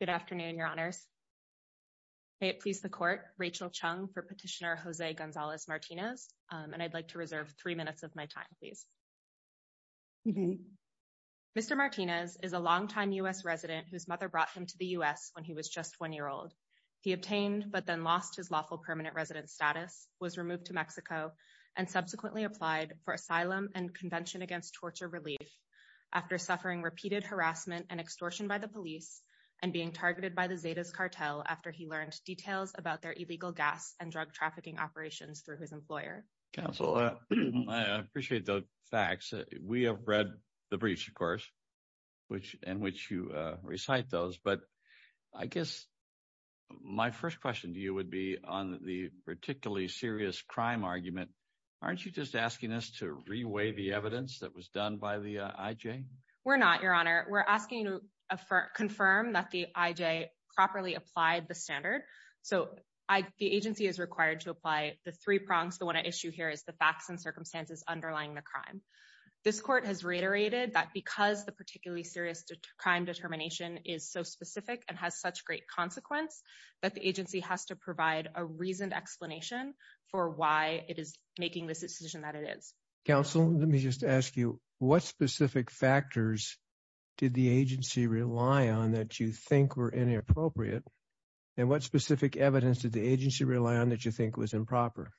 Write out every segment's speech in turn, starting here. Good afternoon, Your Honors. May it please the Court, Rachel Chung for Petitioner Jose Gonzalez-Martinez, and I'd like to reserve three minutes of my time, please. Mr. Martinez is a longtime U.S. resident whose mother brought him to the U.S. when he was just one year old. He obtained, but then lost, his lawful permanent residence status, was subsequently applied for asylum and Convention Against Torture relief after suffering repeated harassment and extortion by the police and being targeted by the Zetas cartel after he learned details about their illegal gas and drug trafficking operations through his employer. Counsel, I appreciate the facts. We have read the breach, of course, in which you recite those, but I guess my first question to you would be on the particularly serious crime argument. Aren't you just asking us to reweigh the evidence that was done by the IJ? We're not, Your Honor. We're asking you to confirm that the IJ properly applied the standard. So the agency is required to apply the three prongs. The one issue here is the facts and circumstances underlying the crime. This court has reiterated that because the particularly serious crime determination is so specific and has such great consequence, that the agency has to provide a reasoned explanation for why it is making this decision that it is. Counsel, let me just ask you, what specific factors did the agency rely on that you think were inappropriate? And what specific evidence did the agency rely on that you think was improper?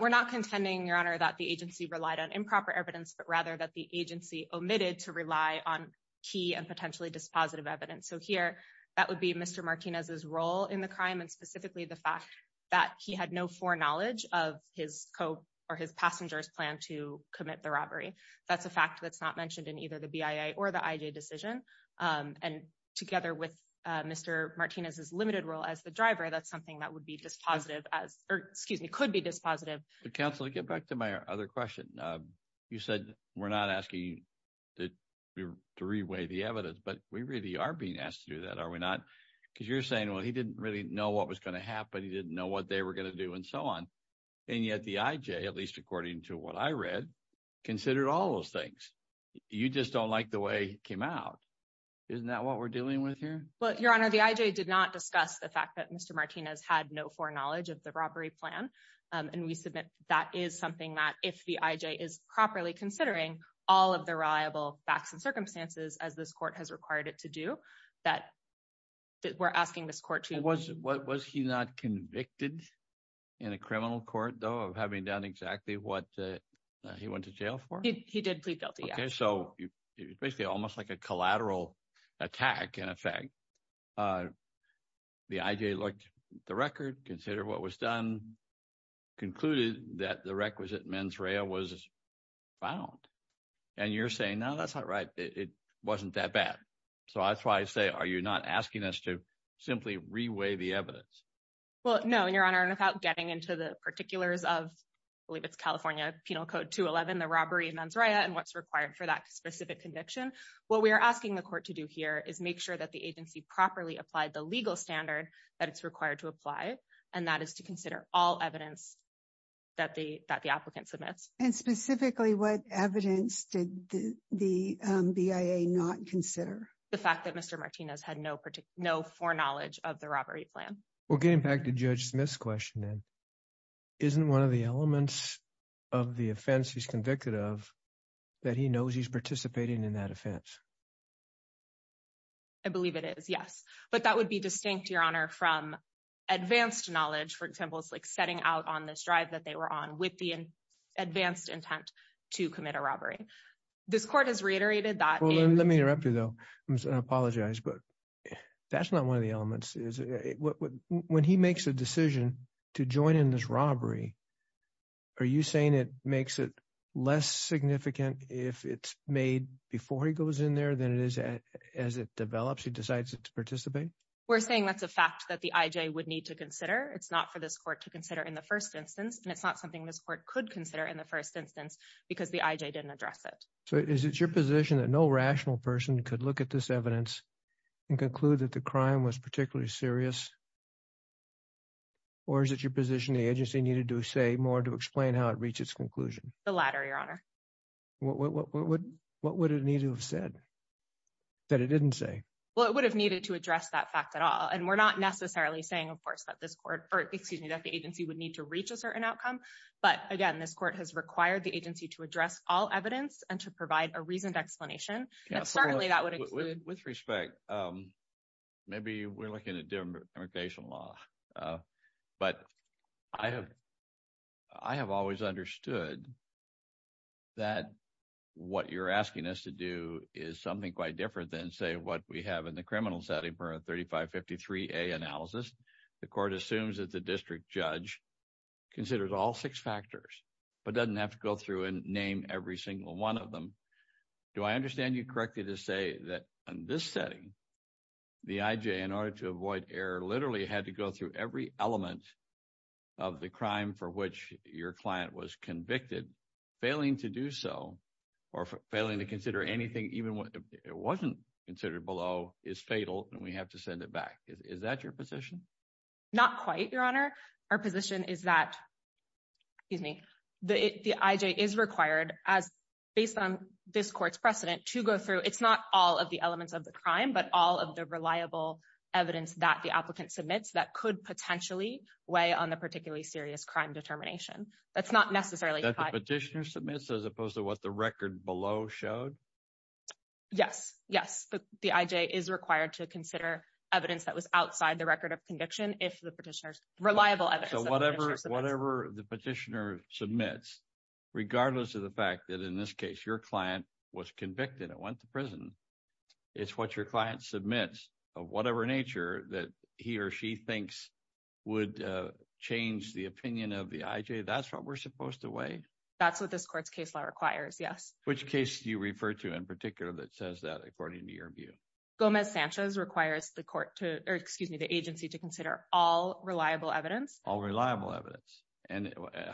We're not contending, Your Honor, that the agency relied on improper evidence, but rather that the agency omitted to rely on key and potentially dispositive evidence. So here, that would be Mr. Martinez's role in the crime, and specifically the fact that he had no foreknowledge of his passenger's plan to commit the robbery. That's a fact that's not mentioned in either the BIA or the IJ decision. And together with Mr. Martinez's limited role as the driver, that's something that would be dispositive, or excuse me, could be dispositive. Counsel, to get back to my other question, you said we're not asking to reweigh the evidence, but we really are being asked to do that, are we not? Because you're saying, well, he didn't really know what was going to happen. He didn't know what they were going to do and so on. And yet the IJ, at least according to what I read, considered all those things. You just don't like the way it came out. Isn't that what we're dealing with here? Well, Your Honor, the IJ did not discuss the fact that Mr. Martinez had no foreknowledge of the reliable facts and circumstances, as this court has required it to do, that we're asking this court to- Was he not convicted in a criminal court, though, of having done exactly what he went to jail for? He did plead guilty, yes. Okay, so it's basically almost like a collateral attack, in effect. The IJ looked at the record, considered what was done, concluded that the requisite mens rea was found. And you're saying, no, that's not right. It wasn't that bad. So that's why I say, are you not asking us to simply reweigh the evidence? Well, no, Your Honor. And without getting into the particulars of, I believe it's California Penal Code 211, the robbery and mens rea, and what's required for that specific conviction, what we are asking the court to do here is make sure that the agency properly applied the legal standard that it's required to apply, and that is to consider all evidence that the applicant submits. And specifically, what evidence did the BIA not consider? The fact that Mr. Martinez had no foreknowledge of the robbery plan. Well, getting back to Judge Smith's question, then, isn't one of the elements of the offense he's convicted of that he knows he's participating in that offense? I believe it is, yes. But that would be distinct, Your Honor, from advanced knowledge, for example, like setting out on this drive that they were on with the advanced intent to commit a robbery. This court has reiterated that- Well, let me interrupt you, though. I apologize, but that's not one of the elements. When he makes a decision to join in this robbery, are you saying it makes it less significant if it's made before he goes in there than it is as it develops, he decides to participate? We're saying that's a fact that the IJ would need to consider. It's not for this court to consider in the first instance, and it's not something this court could consider in the first instance because the IJ didn't address it. So is it your position that no rational person could look at this evidence and conclude that the crime was particularly serious, or is it your position the agency needed to say more to explain how it reached its conclusion? The latter, Your Honor. What would it need to have said that it didn't say? Well, it would have needed to address that fact at all. And we're not necessarily saying, of course, that this court, or excuse me, that the agency would need to reach a certain outcome. But again, this court has required the agency to address all evidence and to provide a reasoned explanation. And certainly that would- With respect, maybe we're looking at demarcation law. But I have always understood that what you're asking us to do is something quite different than, say, what we have in the criminal setting for a 3553A analysis. The court assumes that the district judge considers all six factors, but doesn't have to go through and name every single one of them. Do I understand you correctly to say that in this setting, the IJ, in order to avoid error, literally had to go through every element of the crime for which your client was convicted? Failing to do so, or failing to consider anything, even what it wasn't considered below, is fatal and we have to send it back. Is that your position? Not quite, Your Honor. Our position is that, excuse me, the IJ is required, based on this court's precedent, to go through, it's not all of the elements of the crime, but all of the reliable evidence that the applicant submits that could potentially weigh on the particularly serious crime determination. That's not necessarily- That the petitioner submits as opposed to what the record below showed? Yes. Yes. The IJ is required to consider evidence that was outside the record of conviction if the petitioner submits, regardless of the fact that, in this case, your client was convicted and went to prison. It's what your client submits of whatever nature that he or she thinks would change the opinion of the IJ. That's what we're supposed to weigh? That's what this court's case law requires, yes. Which case do you refer to in particular that says that, according to your view? Gomez-Sanchez requires the agency to consider all reliable evidence. All reliable evidence.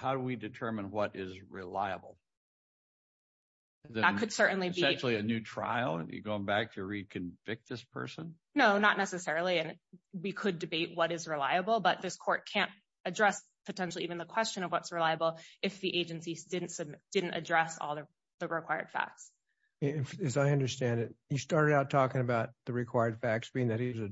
How do we determine what is reliable? That could certainly be- Essentially, a new trial? You're going back to reconvict this person? No, not necessarily. We could debate what is reliable, but this court can't address, potentially, even the question of what's reliable if the agency didn't address all the required facts. As I understand it, he started out talking about the required facts being that he was a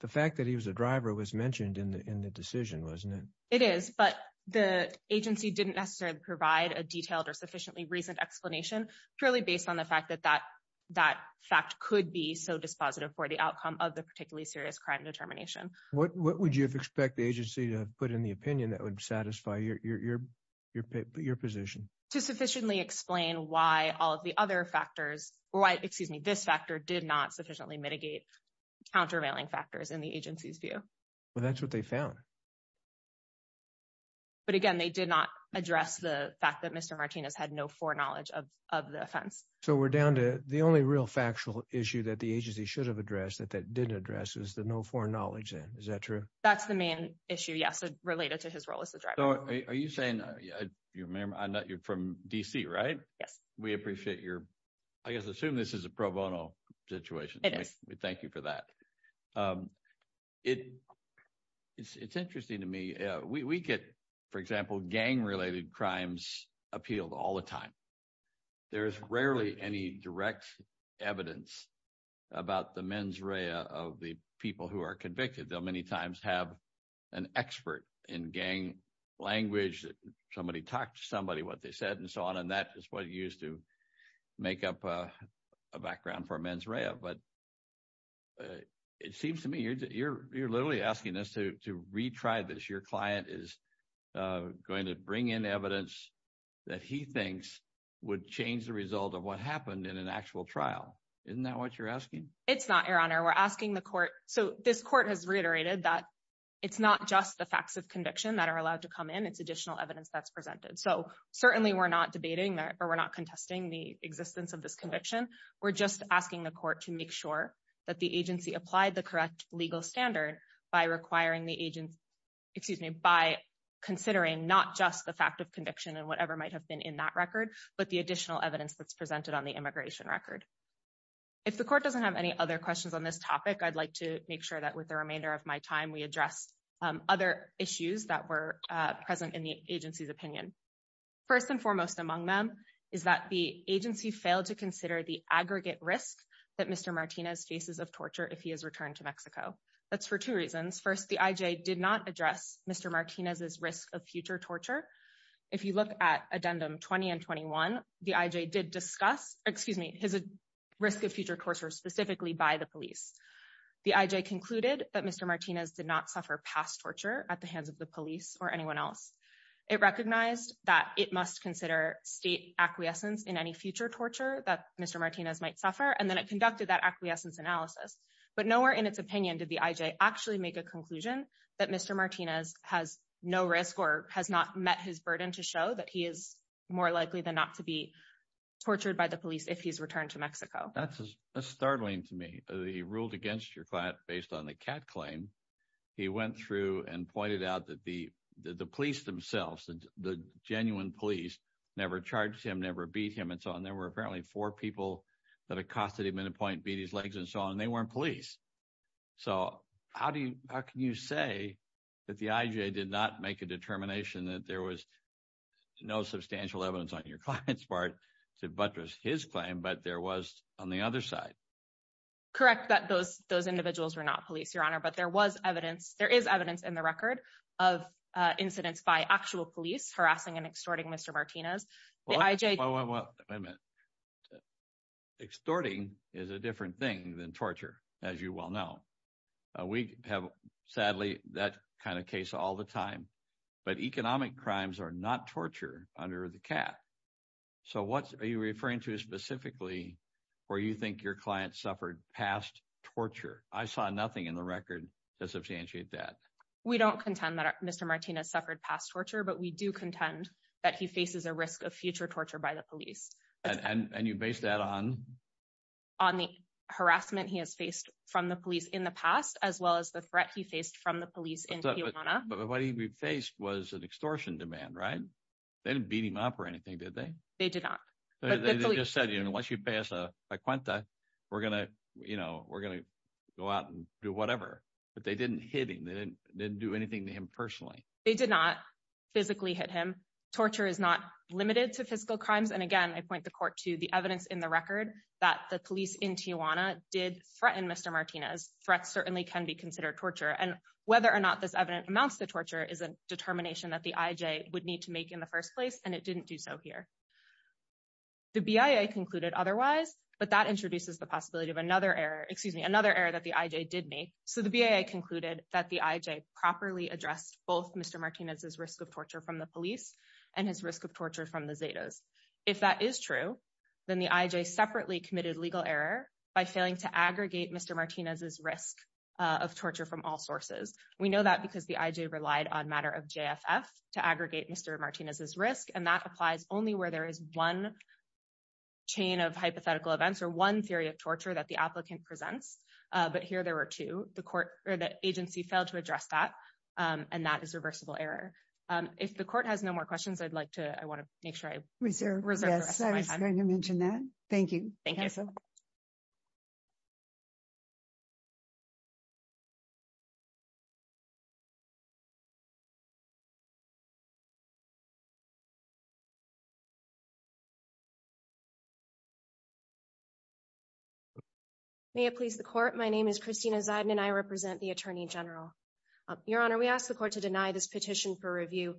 The fact that he was a driver was mentioned in the decision, wasn't it? It is, but the agency didn't necessarily provide a detailed or sufficiently recent explanation, purely based on the fact that that fact could be so dispositive for the outcome of the particularly serious crime determination. What would you expect the agency to put in the opinion that would satisfy your position? To sufficiently explain why all of the other factors in the agency's view. Well, that's what they found. But again, they did not address the fact that Mr. Martinez had no foreknowledge of the offense. So we're down to the only real factual issue that the agency should have addressed that didn't address is the no foreknowledge then. Is that true? That's the main issue, yes, related to his role as a driver. Are you saying, you're from D.C., right? Yes. We appreciate your, I guess, assume this is a pro bono situation. It is. Thank you for that. It's interesting to me. We get, for example, gang-related crimes appealed all the time. There's rarely any direct evidence about the mens rea of the people who are convicted. They'll many times have an expert in gang language. Somebody talked to somebody, what they said, and so on. And that is what used to make up a background for mens rea. But it seems to me you're literally asking us to retry this. Your client is going to bring in evidence that he thinks would change the result of what happened in an actual trial. Isn't that what you're asking? It's not, Your Honor. We're asking the court, so this court has reiterated that it's not just the facts of conviction that are allowed to come in. It's additional evidence that's presented. So certainly we're not debating or we're not contesting the existence of this conviction. We're just asking the court to make sure that the agency applied the correct legal standard by considering not just the fact of conviction and whatever might have been in that record, but the additional evidence that's presented on the immigration record. If the court doesn't have any other questions on this topic, I'd like to make sure that with the remainder of my time, First and foremost among them is that the agency failed to consider the aggregate risk that Mr. Martinez faces of torture if he is returned to Mexico. That's for two reasons. First, the IJ did not address Mr. Martinez's risk of future torture. If you look at addendum 20 and 21, the IJ did discuss, excuse me, his risk of future torture specifically by the police. The IJ concluded that Mr. Martinez did not suffer past torture at the hands of the police or anyone else. It recognized that it must consider state acquiescence in any future torture that Mr. Martinez might suffer, and then it conducted that acquiescence analysis. But nowhere in its opinion did the IJ actually make a conclusion that Mr. Martinez has no risk or has not met his burden to show that he is more likely than not to be tortured by the police if he's returned to Mexico. That's startling to me. He ruled against your client based on the cat claim. He went through and pointed out that the police themselves, the genuine police, never charged him, never beat him, and so on. There were apparently four people that accosted him at a point, beat his legs and so on, and they weren't police. So how can you say that the IJ did not make a determination that there was no substantial evidence on your client's part to buttress his claim, but there was on the other side? Correct that those individuals were not police, Your Honor, but there was evidence, there is evidence in the record of incidents by actual police harassing and extorting Mr. Martinez. Extorting is a different thing than torture, as you well know. We have, sadly, that kind of case all the time. So what are you referring to specifically where you think your client suffered past torture? I saw nothing in the record to substantiate that. We don't contend that Mr. Martinez suffered past torture, but we do contend that he faces a risk of future torture by the police. And you base that on? On the harassment he has faced from the police in the past, as well as the threat he faced from the police in Tijuana. But what he faced was an extortion demand, right? They didn't beat him up or anything, did they? They did not. They just said, you know, once you pass a cuenta, we're going to, you know, we're going to go out and do whatever. But they didn't hit him, they didn't do anything to him personally. They did not physically hit him. Torture is not limited to physical crimes. And again, I point the court to the evidence in the record that the police in Tijuana did threaten Mr. Martinez. Threats certainly can be considered torture. And whether or not this evidence amounts to torture is a determination that the IJ would need to make in the first place, and it didn't do so here. The BIA concluded otherwise, but that introduces the possibility of another error, excuse me, another error that the IJ did make. So the BIA concluded that the IJ properly addressed both Mr. Martinez's risk of torture from the police and his risk of torture from the Zetas. If that is true, then the IJ separately committed legal error by failing to aggregate Mr. Martinez's risk of torture from all sources. We know that because the IJ relied on matter of JFF to aggregate Mr. Martinez's risk. And that applies only where there is one chain of hypothetical events or one theory of torture that the applicant presents. But here there were two, the agency failed to address that. And that is reversible error. If the court has no more questions, I'd like to, I want to make sure I reserve the rest of my time. I'm going to mention that. Thank you. May it please the court. My name is Christina Zeidman. I represent the Attorney General. Your Honor, we ask the court to deny this petition for review.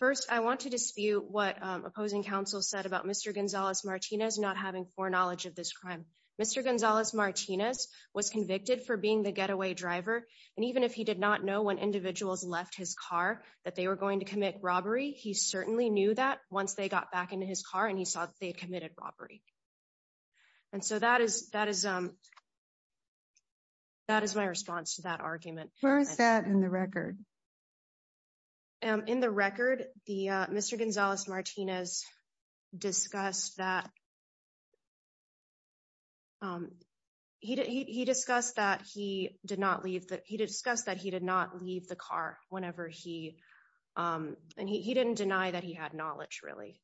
First, I want to dispute what opposing counsel said about Mr. Gonzalez-Martinez not having foreknowledge of this crime. Mr. Gonzalez-Martinez was convicted for being the getaway driver. And even if he did not know when individuals left his car, that they were going to commit robbery, he certainly knew that once they got back into his car and he saw that they had committed robbery. And so that is, that is, that is my response to that argument. Where is that in the record? In the record, the Mr. Gonzalez-Martinez discussed that, he discussed that he did not leave, he discussed that he did not leave the car whenever he, and he didn't deny that he had knowledge really.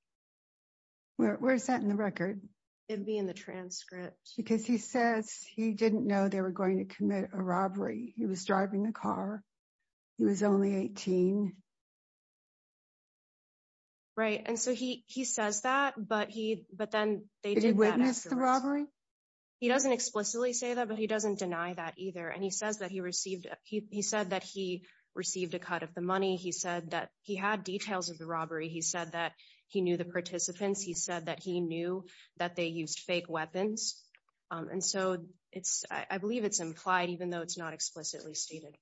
Where's that in the record? It'd be in the transcript. Because he says he didn't know they were going to commit a robbery. He was driving the car. He was only 18. Right. And so he, he says that, but he, but then they did witness the robbery. He doesn't explicitly say that, but he doesn't deny that either. And he says that he received, he said that he received a cut of the money. He said that he had details of the robbery. He said that he knew the participants. He said that he knew that they used fake weapons. And so it's, I believe it's implied, even though it's not explicitly stated.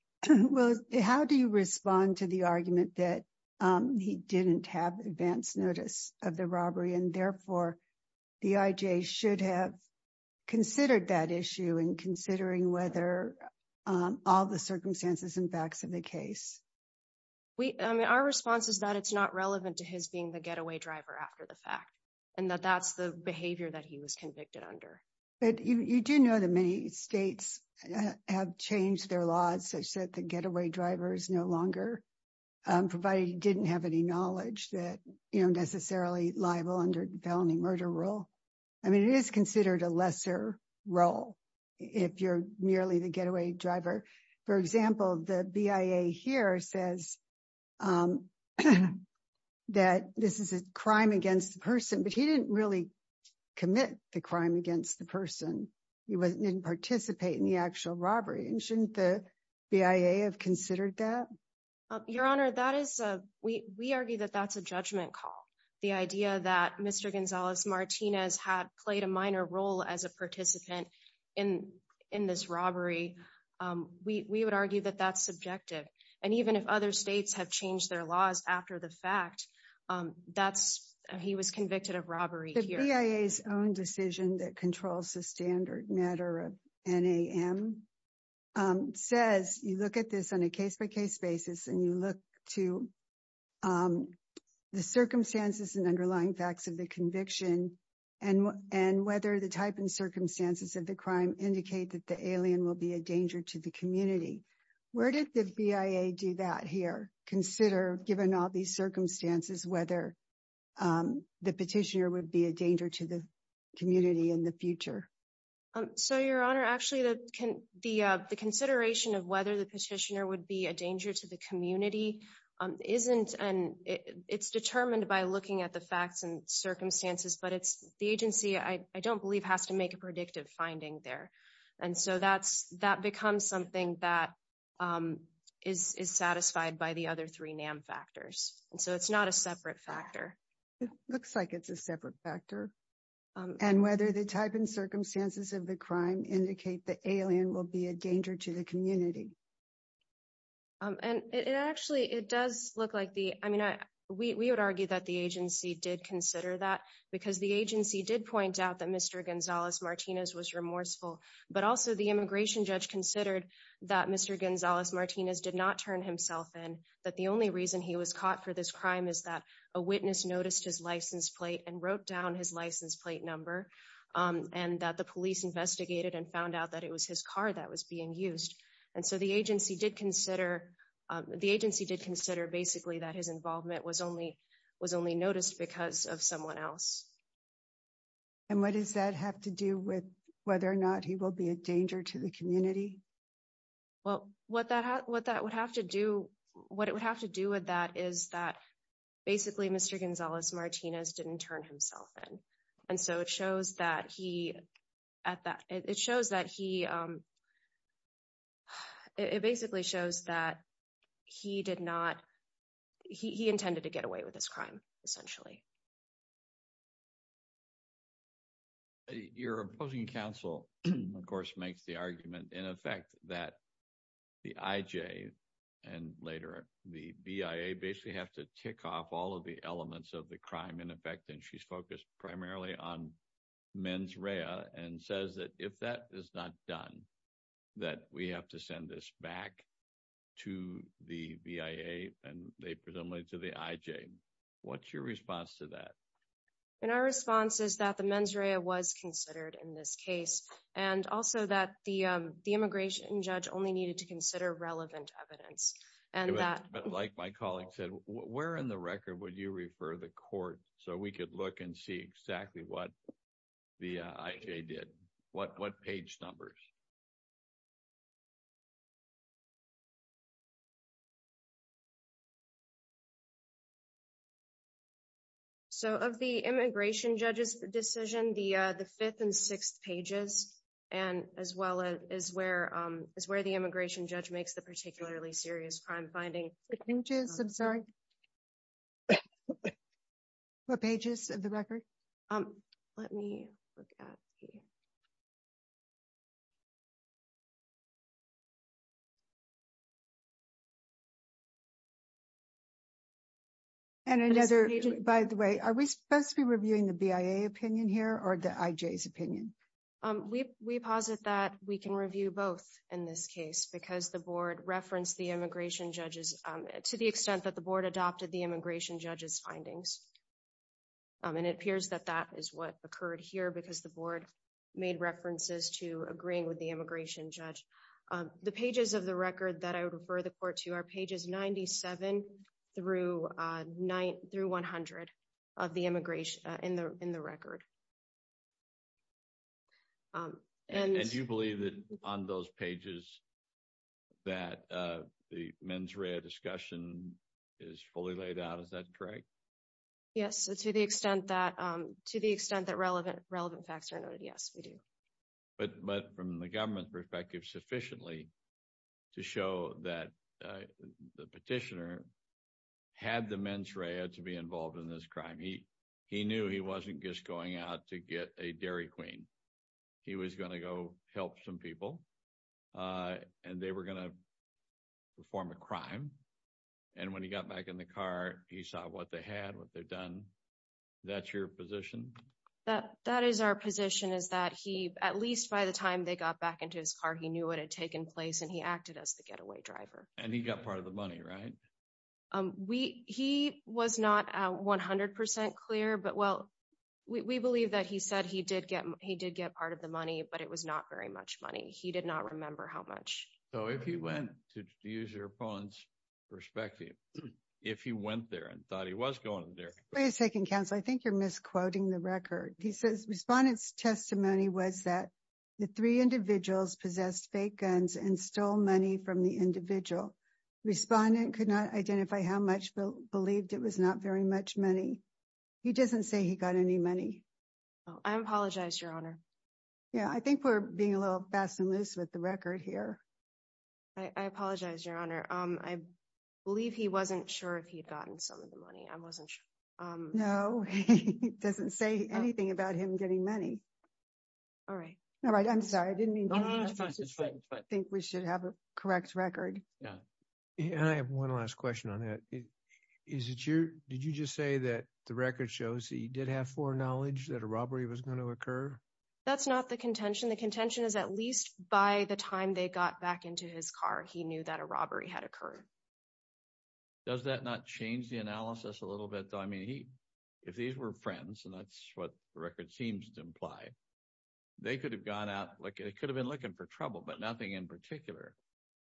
How do you respond to the argument that he didn't have advanced notice of the robbery and therefore the IJ should have considered that issue and considering whether all the circumstances and facts of the case? We, I mean, our response is that it's not relevant to his being the getaway driver after the fact, and that that's the behavior that he was convicted under. But you do know that many states have changed their laws, such that the getaway driver is no longer provided he didn't have any knowledge that, you know, necessarily liable under felony murder rule. I mean, it is considered a lesser role if you're merely the getaway driver. For example, the BIA here says that this is a crime against the person, but he didn't really commit the crime against the person. He wasn't, didn't participate in the actual robbery. Shouldn't the BIA have considered that? Your Honor, that is, we argue that that's a judgment call. The idea that Mr. Gonzalez Martinez had played a minor role as a participant in this robbery, we would argue that that's subjective. And even if other states have changed their laws after the fact, that's, he was convicted of robbery here. The BIA's own decision that controls the standard matter of NAM? Says you look at this on a case by case basis and you look to the circumstances and underlying facts of the conviction and whether the type and circumstances of the crime indicate that the alien will be a danger to the community. Where did the BIA do that here? Consider, given all these circumstances, whether the petitioner would be a danger to the community in the future. So Your Honor, actually the consideration of whether the petitioner would be a danger to the community isn't, and it's determined by looking at the facts and circumstances, but it's the agency, I don't believe has to make a predictive finding there. And so that's, that becomes something that is satisfied by the other three NAM factors. And so it's not a separate factor. It looks like it's a separate factor. And whether the type and circumstances of the crime indicate the alien will be a danger to the community. And it actually, it does look like the, I mean, we would argue that the agency did consider that because the agency did point out that Mr. Gonzalez-Martinez was remorseful, but also the immigration judge considered that Mr. Gonzalez-Martinez did not turn himself in, that the only reason he was caught for this crime is that a witness noticed his license plate and wrote down his license plate number, and that the police investigated and found out that it was his car that was being used. And so the agency did consider, the agency did consider basically that his involvement was only noticed because of someone else. And what does that have to do with whether or not he will be a danger to the community? Well, what that would have to do, what it would have to do with that is that basically Mr. Gonzalez-Martinez didn't turn himself in. And so it shows that he, at that, it shows that he, it basically shows that he did not, he intended to get away with this crime, essentially. Your opposing counsel, of course, makes the argument in effect that the IJ, and later the BIA, basically have to tick off all of the elements of the crime in effect, and she's focused primarily on mens rea, and says that if that is not done, that we have to send this back to the BIA, and presumably to the IJ. What's your response to that? And our response is that the mens rea was considered in this case, and also that the immigration judge only needed to consider relevant evidence. Like my colleague said, where in the record would you refer the court so we could look and see exactly what the IJ did? What page numbers? So, of the immigration judge's decision, the fifth and sixth pages, and as well as where the immigration judge makes the particularly serious crime finding. The pages, I'm sorry. What pages of the record? Let me look at the... And another, by the way, are we supposed to be reviewing the BIA opinion here, or the IJ's opinion? We posit that we can review both in this case, because the board referenced the immigration judge's, to the extent that the board adopted the immigration judge's findings, and it appears that that is what occurred here, because the board made references to agreeing with the immigration judge. The pages of the record that I would refer the court to are pages 97 through 100 of the immigration, in the record. And do you believe that on those pages that the mens rea discussion is fully laid out? Is that correct? Yes, to the extent that relevant facts are noted, yes, we do. But from the government's perspective, sufficiently to show that the petitioner had the mens rea to be involved in this crime. He knew he wasn't just going out to get a Dairy Queen. He was going to go help some people, and they were going to perform a crime. And when he got back in the car, he saw what they had, what they've done. That's your position? That is our position, is that he, at least by the time they got back into his car, he knew what had taken place, and he acted as the getaway driver. And he got part of the money, right? He was not 100% clear, but well, we believe that he said he did get part of the money, but it was not very much money. He did not remember how much. So if he went, to use your opponent's perspective, if he went there and thought he was going there- Wait a second, counsel. I think you're misquoting the record. He says, respondent's testimony was that the three individuals possessed fake guns and stole money from the individual. Respondent could not identify how much, but believed it was not very much money. He doesn't say he got any money. I apologize, your honor. Yeah, I think we're being a little fast and loose with the record here. I apologize, your honor. I believe he wasn't sure if he'd gotten some of the money. I wasn't sure. No, he doesn't say anything about him getting money. All right. All right, I'm sorry. I didn't mean to- No, no, no, it's fine, it's fine, it's fine. I think we should have a correct record. And I have one last question on that. Did you just say that the record shows that he did have foreknowledge that a robbery was going to occur? That's not the contention. The contention is at least by the time they got back into his car, he knew that a robbery had occurred. Does that not change the analysis a little bit, though? I mean, if these were friends, and that's what the record seems to imply, they could have gone out, they could have been looking for trouble, but nothing in particular.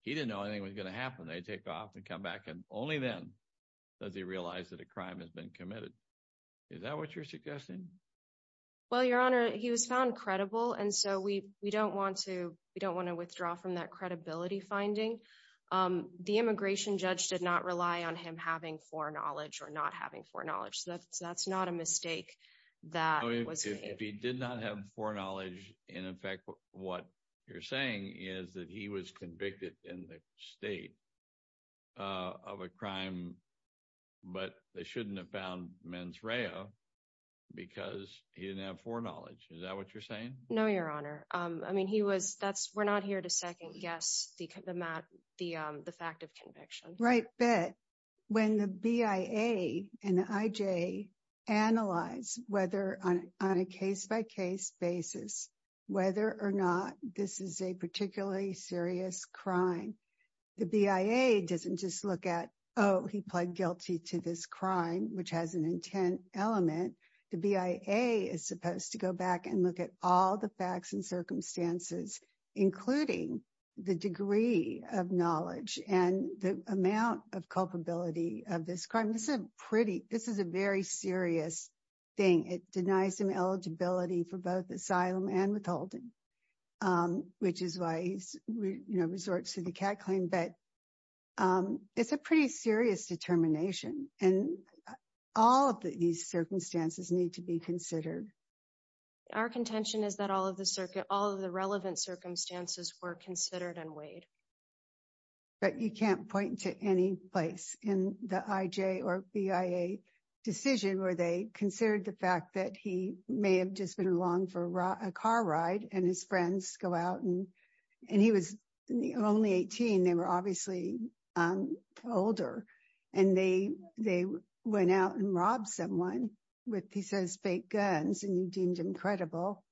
He didn't know anything was going to happen. They take off and come back, and only then does he realize that a crime has been committed. Is that what you're suggesting? Well, Your Honor, he was found credible, and so we don't want to withdraw from that credibility finding. The immigration judge did not rely on him having foreknowledge or not having foreknowledge, so that's not a mistake that was made. If he did not have foreknowledge, and in fact what you're saying is that he was convicted in the state of a crime, but they shouldn't have found mens rea because he didn't have foreknowledge. Is that what you're saying? No, Your Honor. We're not here to second guess the fact of conviction. Right, but when the BIA and the IJ analyze whether on a case-by-case basis, whether or not this is a particularly serious crime, the BIA doesn't just look at, oh, he pled guilty to this crime, which has an intent element. The BIA is supposed to go back and look at all the facts and circumstances, including the degree of knowledge and the amount of culpability of this crime. This is a very serious thing. It denies him eligibility for both asylum and withholding. Which is why he resorts to the CAD claim, but it's a pretty serious determination. And all of these circumstances need to be considered. Our contention is that all of the relevant circumstances were considered and weighed. But you can't point to any place in the IJ or BIA decision where they considered the and his friends go out and he was only 18. They were obviously older and they went out and robbed someone with, he says, fake guns and you deemed him credible.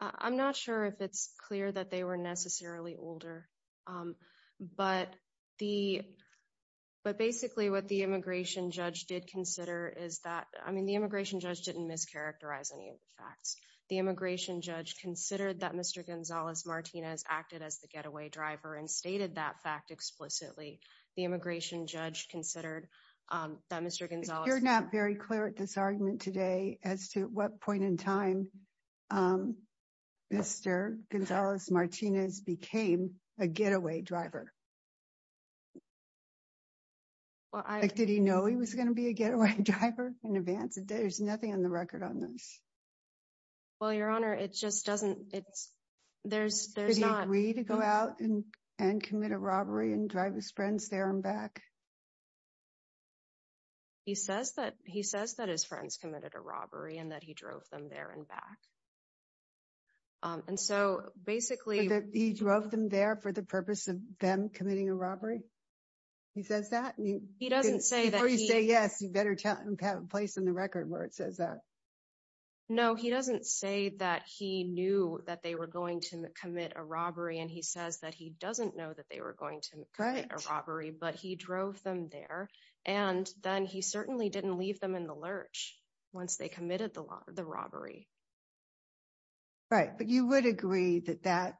I'm not sure if it's clear that they were necessarily older. But basically what the immigration judge did consider is that, I mean, the immigration judge considered that Mr. Gonzalez-Martinez acted as the getaway driver and stated that fact explicitly. The immigration judge considered that Mr. Gonzalez- You're not very clear at this argument today as to what point in time Mr. Gonzalez-Martinez became a getaway driver. Did he know he was going to be a getaway driver in advance? There's nothing on the record on this. Well, Your Honor, it just doesn't, there's not- Did he agree to go out and commit a robbery and drive his friends there and back? He says that his friends committed a robbery and that he drove them there and back. And so basically- But he drove them there for the purpose of them committing a robbery? He says that? He doesn't say that he- Before you say yes, you better have a place in the record where it says that. No, he doesn't say that he knew that they were going to commit a robbery and he says that he doesn't know that they were going to commit a robbery, but he drove them there and then he certainly didn't leave them in the lurch once they committed the robbery. Right, but you would agree that that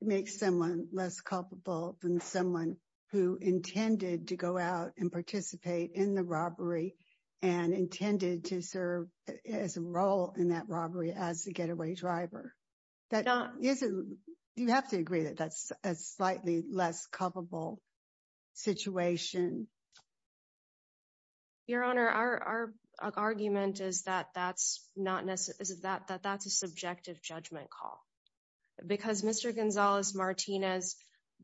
makes someone less culpable than someone who intended to go out and participate in the robbery and intended to serve as a role in that robbery as the getaway driver. Do you have to agree that that's a slightly less culpable situation? Your Honor, our argument is that that's a subjective judgment call. Because Mr. Gonzalez-Martinez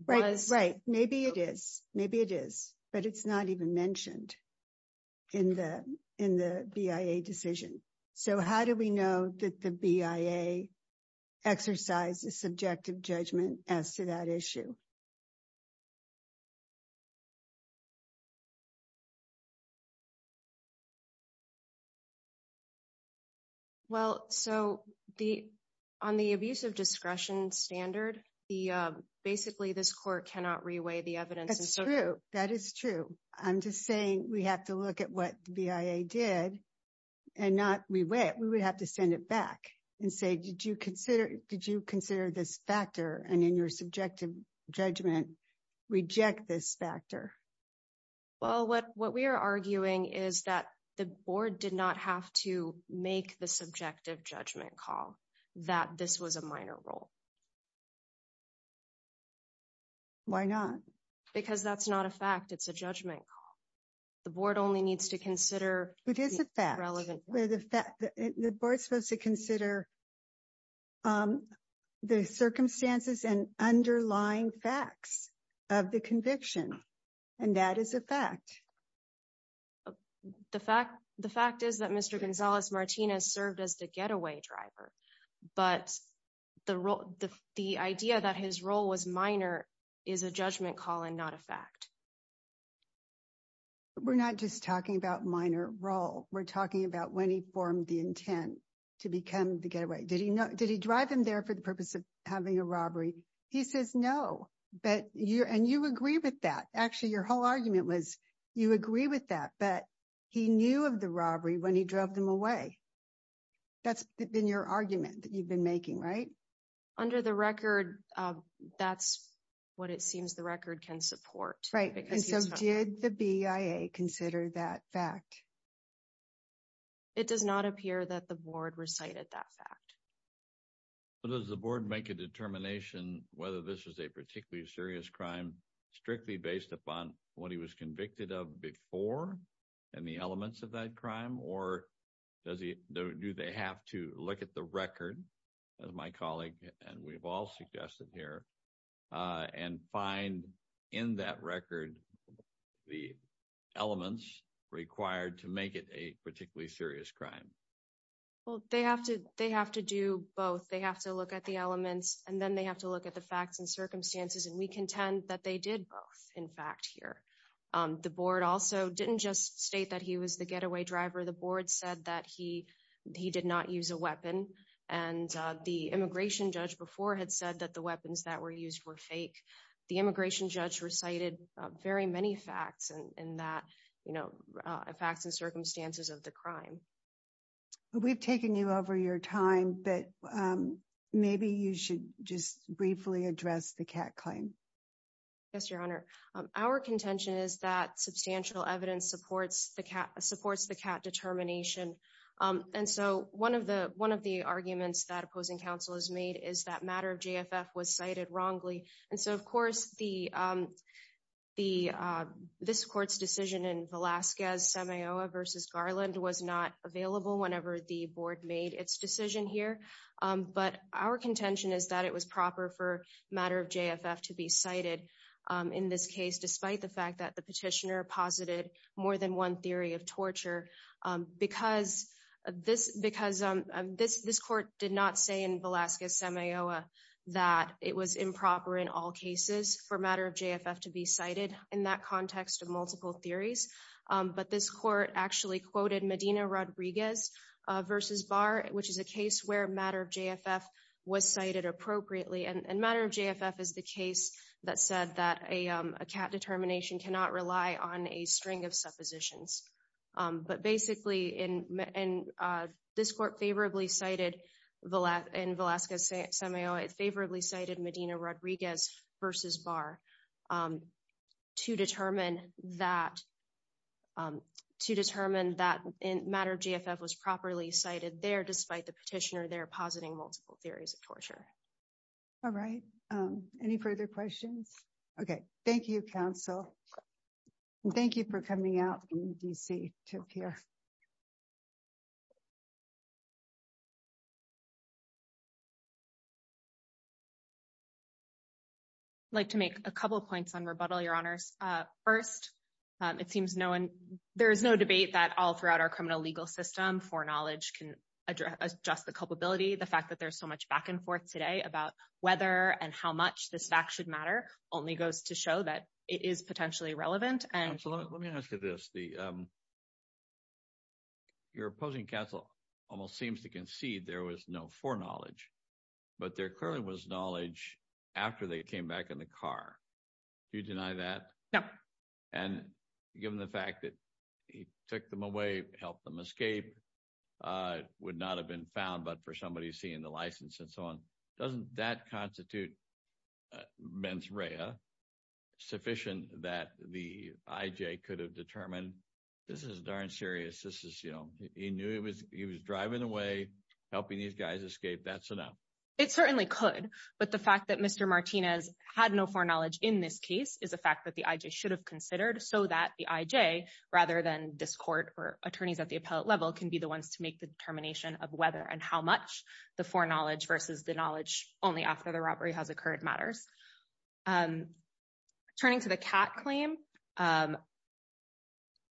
was- Maybe it is, but it's not even mentioned in the BIA decision. So how do we know that the BIA exercise is subjective judgment as to that issue? Well, so on the abuse of discretion standard, basically this court cannot reweigh the evidence- That is true. I'm just saying we have to look at what the BIA did and not reweigh it. We would have to send it back and say, did you consider this factor and in your subjective judgment reject this factor? Well, what we are arguing is that the board did not have to make the subjective judgment call that this was a minor role. Why not? Because that's not a fact. It's a judgment call. The board only needs to consider- It is a fact. The board is supposed to consider the circumstances and underlying facts of the conviction, and that is a fact. The fact is that Mr. Gonzalez-Martinez served as the getaway driver, but the role that he the idea that his role was minor is a judgment call and not a fact. We're not just talking about minor role. We're talking about when he formed the intent to become the getaway. Did he drive him there for the purpose of having a robbery? He says no, and you agree with that. Actually, your whole argument was you agree with that, but he knew of the robbery when he drove them away. That's been your argument that you've been making, right? Under the record, that's what it seems the record can support. Right, and so did the BIA consider that fact? It does not appear that the board recited that fact. Does the board make a determination whether this is a particularly serious crime strictly based upon what he was convicted of before and the elements of that crime, or do they have to look at the record, as my colleague and we've all suggested here, and find in that record the elements required to make it a particularly serious crime? Well, they have to do both. They have to look at the elements, and then they have to look at the facts and circumstances, and we contend that they did both, in fact, here. The board also didn't just state that he was the getaway driver. The board said that he did not use a weapon, and the immigration judge before had said that the weapons that were used were fake. The immigration judge recited very many facts in that, you know, facts and circumstances of the crime. We've taken you over your time, but maybe you should just briefly address the Catt claim. Yes, your honor. Our contention is that substantial evidence supports the Catt determination, and so one of the arguments that opposing counsel has made is that matter of JFF was cited wrongly, and so, of course, this court's decision in Velasquez-Semihoa v. Garland was not available whenever the board made its decision here, but our contention is that it was proper for this case, despite the fact that the petitioner posited more than one theory of torture, because this court did not say in Velasquez-Semihoa that it was improper in all cases for matter of JFF to be cited in that context of multiple theories, but this court actually quoted Medina Rodriguez v. Barr, which is a case where matter of JFF was cited appropriately, and matter of JFF, a Catt determination cannot rely on a string of suppositions, but basically, and this court favorably cited in Velasquez-Semihoa, it favorably cited Medina Rodriguez v. Barr to determine that matter of JFF was properly cited there, despite the petitioner there positing multiple theories of torture. All right, any further questions? Okay, thank you, counsel, and thank you for coming out in D.C. to appear. I'd like to make a couple points on rebuttal, Your Honors. First, it seems no one, there is no debate that all throughout our criminal legal system, foreknowledge can address the culpability, the fact that there's so much back and forth today about whether and how much this fact should matter only goes to show that it is potentially relevant. Counsel, let me ask you this. Your opposing counsel almost seems to concede there was no foreknowledge, but there clearly was knowledge after they came back in the car. Do you deny that? No. And given the fact that he took them away, helped them escape, would not have been found, but for somebody seeing the license and so on, doesn't that constitute mens rea sufficient that the I.J. could have determined this is darn serious? He knew he was driving away, helping these guys escape, that's enough. It certainly could, but the fact that Mr. Martinez had no foreknowledge in this case is a fact that the I.J. should have considered so that the I.J., rather than this court or much, the foreknowledge versus the knowledge only after the robbery has occurred matters. Turning to the cat claim,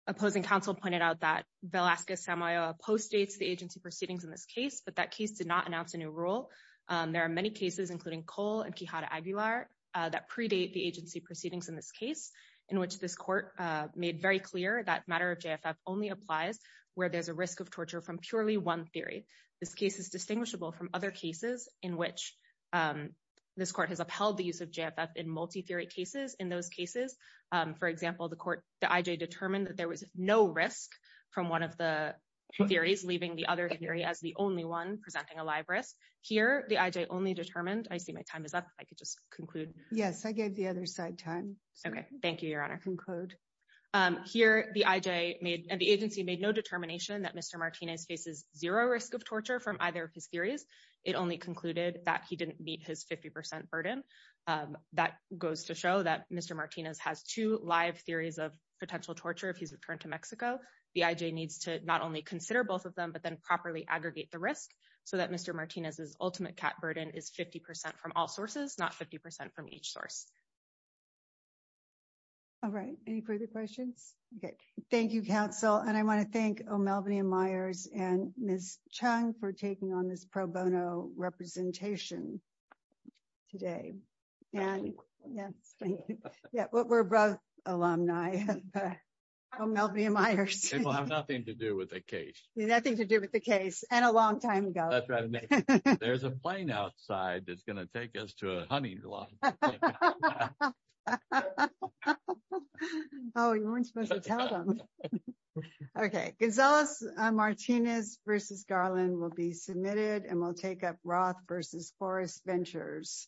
opposing counsel pointed out that Velasquez-Samoa postdates the agency proceedings in this case, but that case did not announce a new rule. There are many cases, including Cole and Quijada-Aguilar, that predate the agency proceedings in this case, in which this court made very clear that matter of JFF only applies where there's a risk of torture from purely one theory. This case is distinguishable from other cases in which this court has upheld the use of JFF in multi-theory cases. In those cases, for example, the I.J. determined that there was no risk from one of the theories, leaving the other theory as the only one presenting a live risk. Here, the I.J. only determined, I see my time is up, I could just conclude. Yes, I gave the other side time. Okay, thank you, Your Honor. Conclude. Here, the I.J. and the agency made no determination that Mr. Martinez faces zero risk of torture from either of his theories. It only concluded that he didn't meet his 50% burden. That goes to show that Mr. Martinez has two live theories of potential torture if he's returned to Mexico. The I.J. needs to not only consider both of them, but then properly aggregate the risk so that Mr. Martinez's ultimate cat burden is 50% from all sources, not 50% from each source. All right, any further questions? Okay, thank you, counsel. And I want to thank O'Melveny and Myers and Ms. Chung for taking on this pro bono representation today. And yes, thank you. Yeah, but we're both alumni. O'Melveny and Myers. It will have nothing to do with the case. It has nothing to do with the case, and a long time ago. That's right. There's a plane outside that's going to take us to a hunting lodge. Oh, you weren't supposed to tell them. Okay, Gonzalez-Martinez versus Garland will be submitted, and we'll take up Roth versus Forrest Ventures.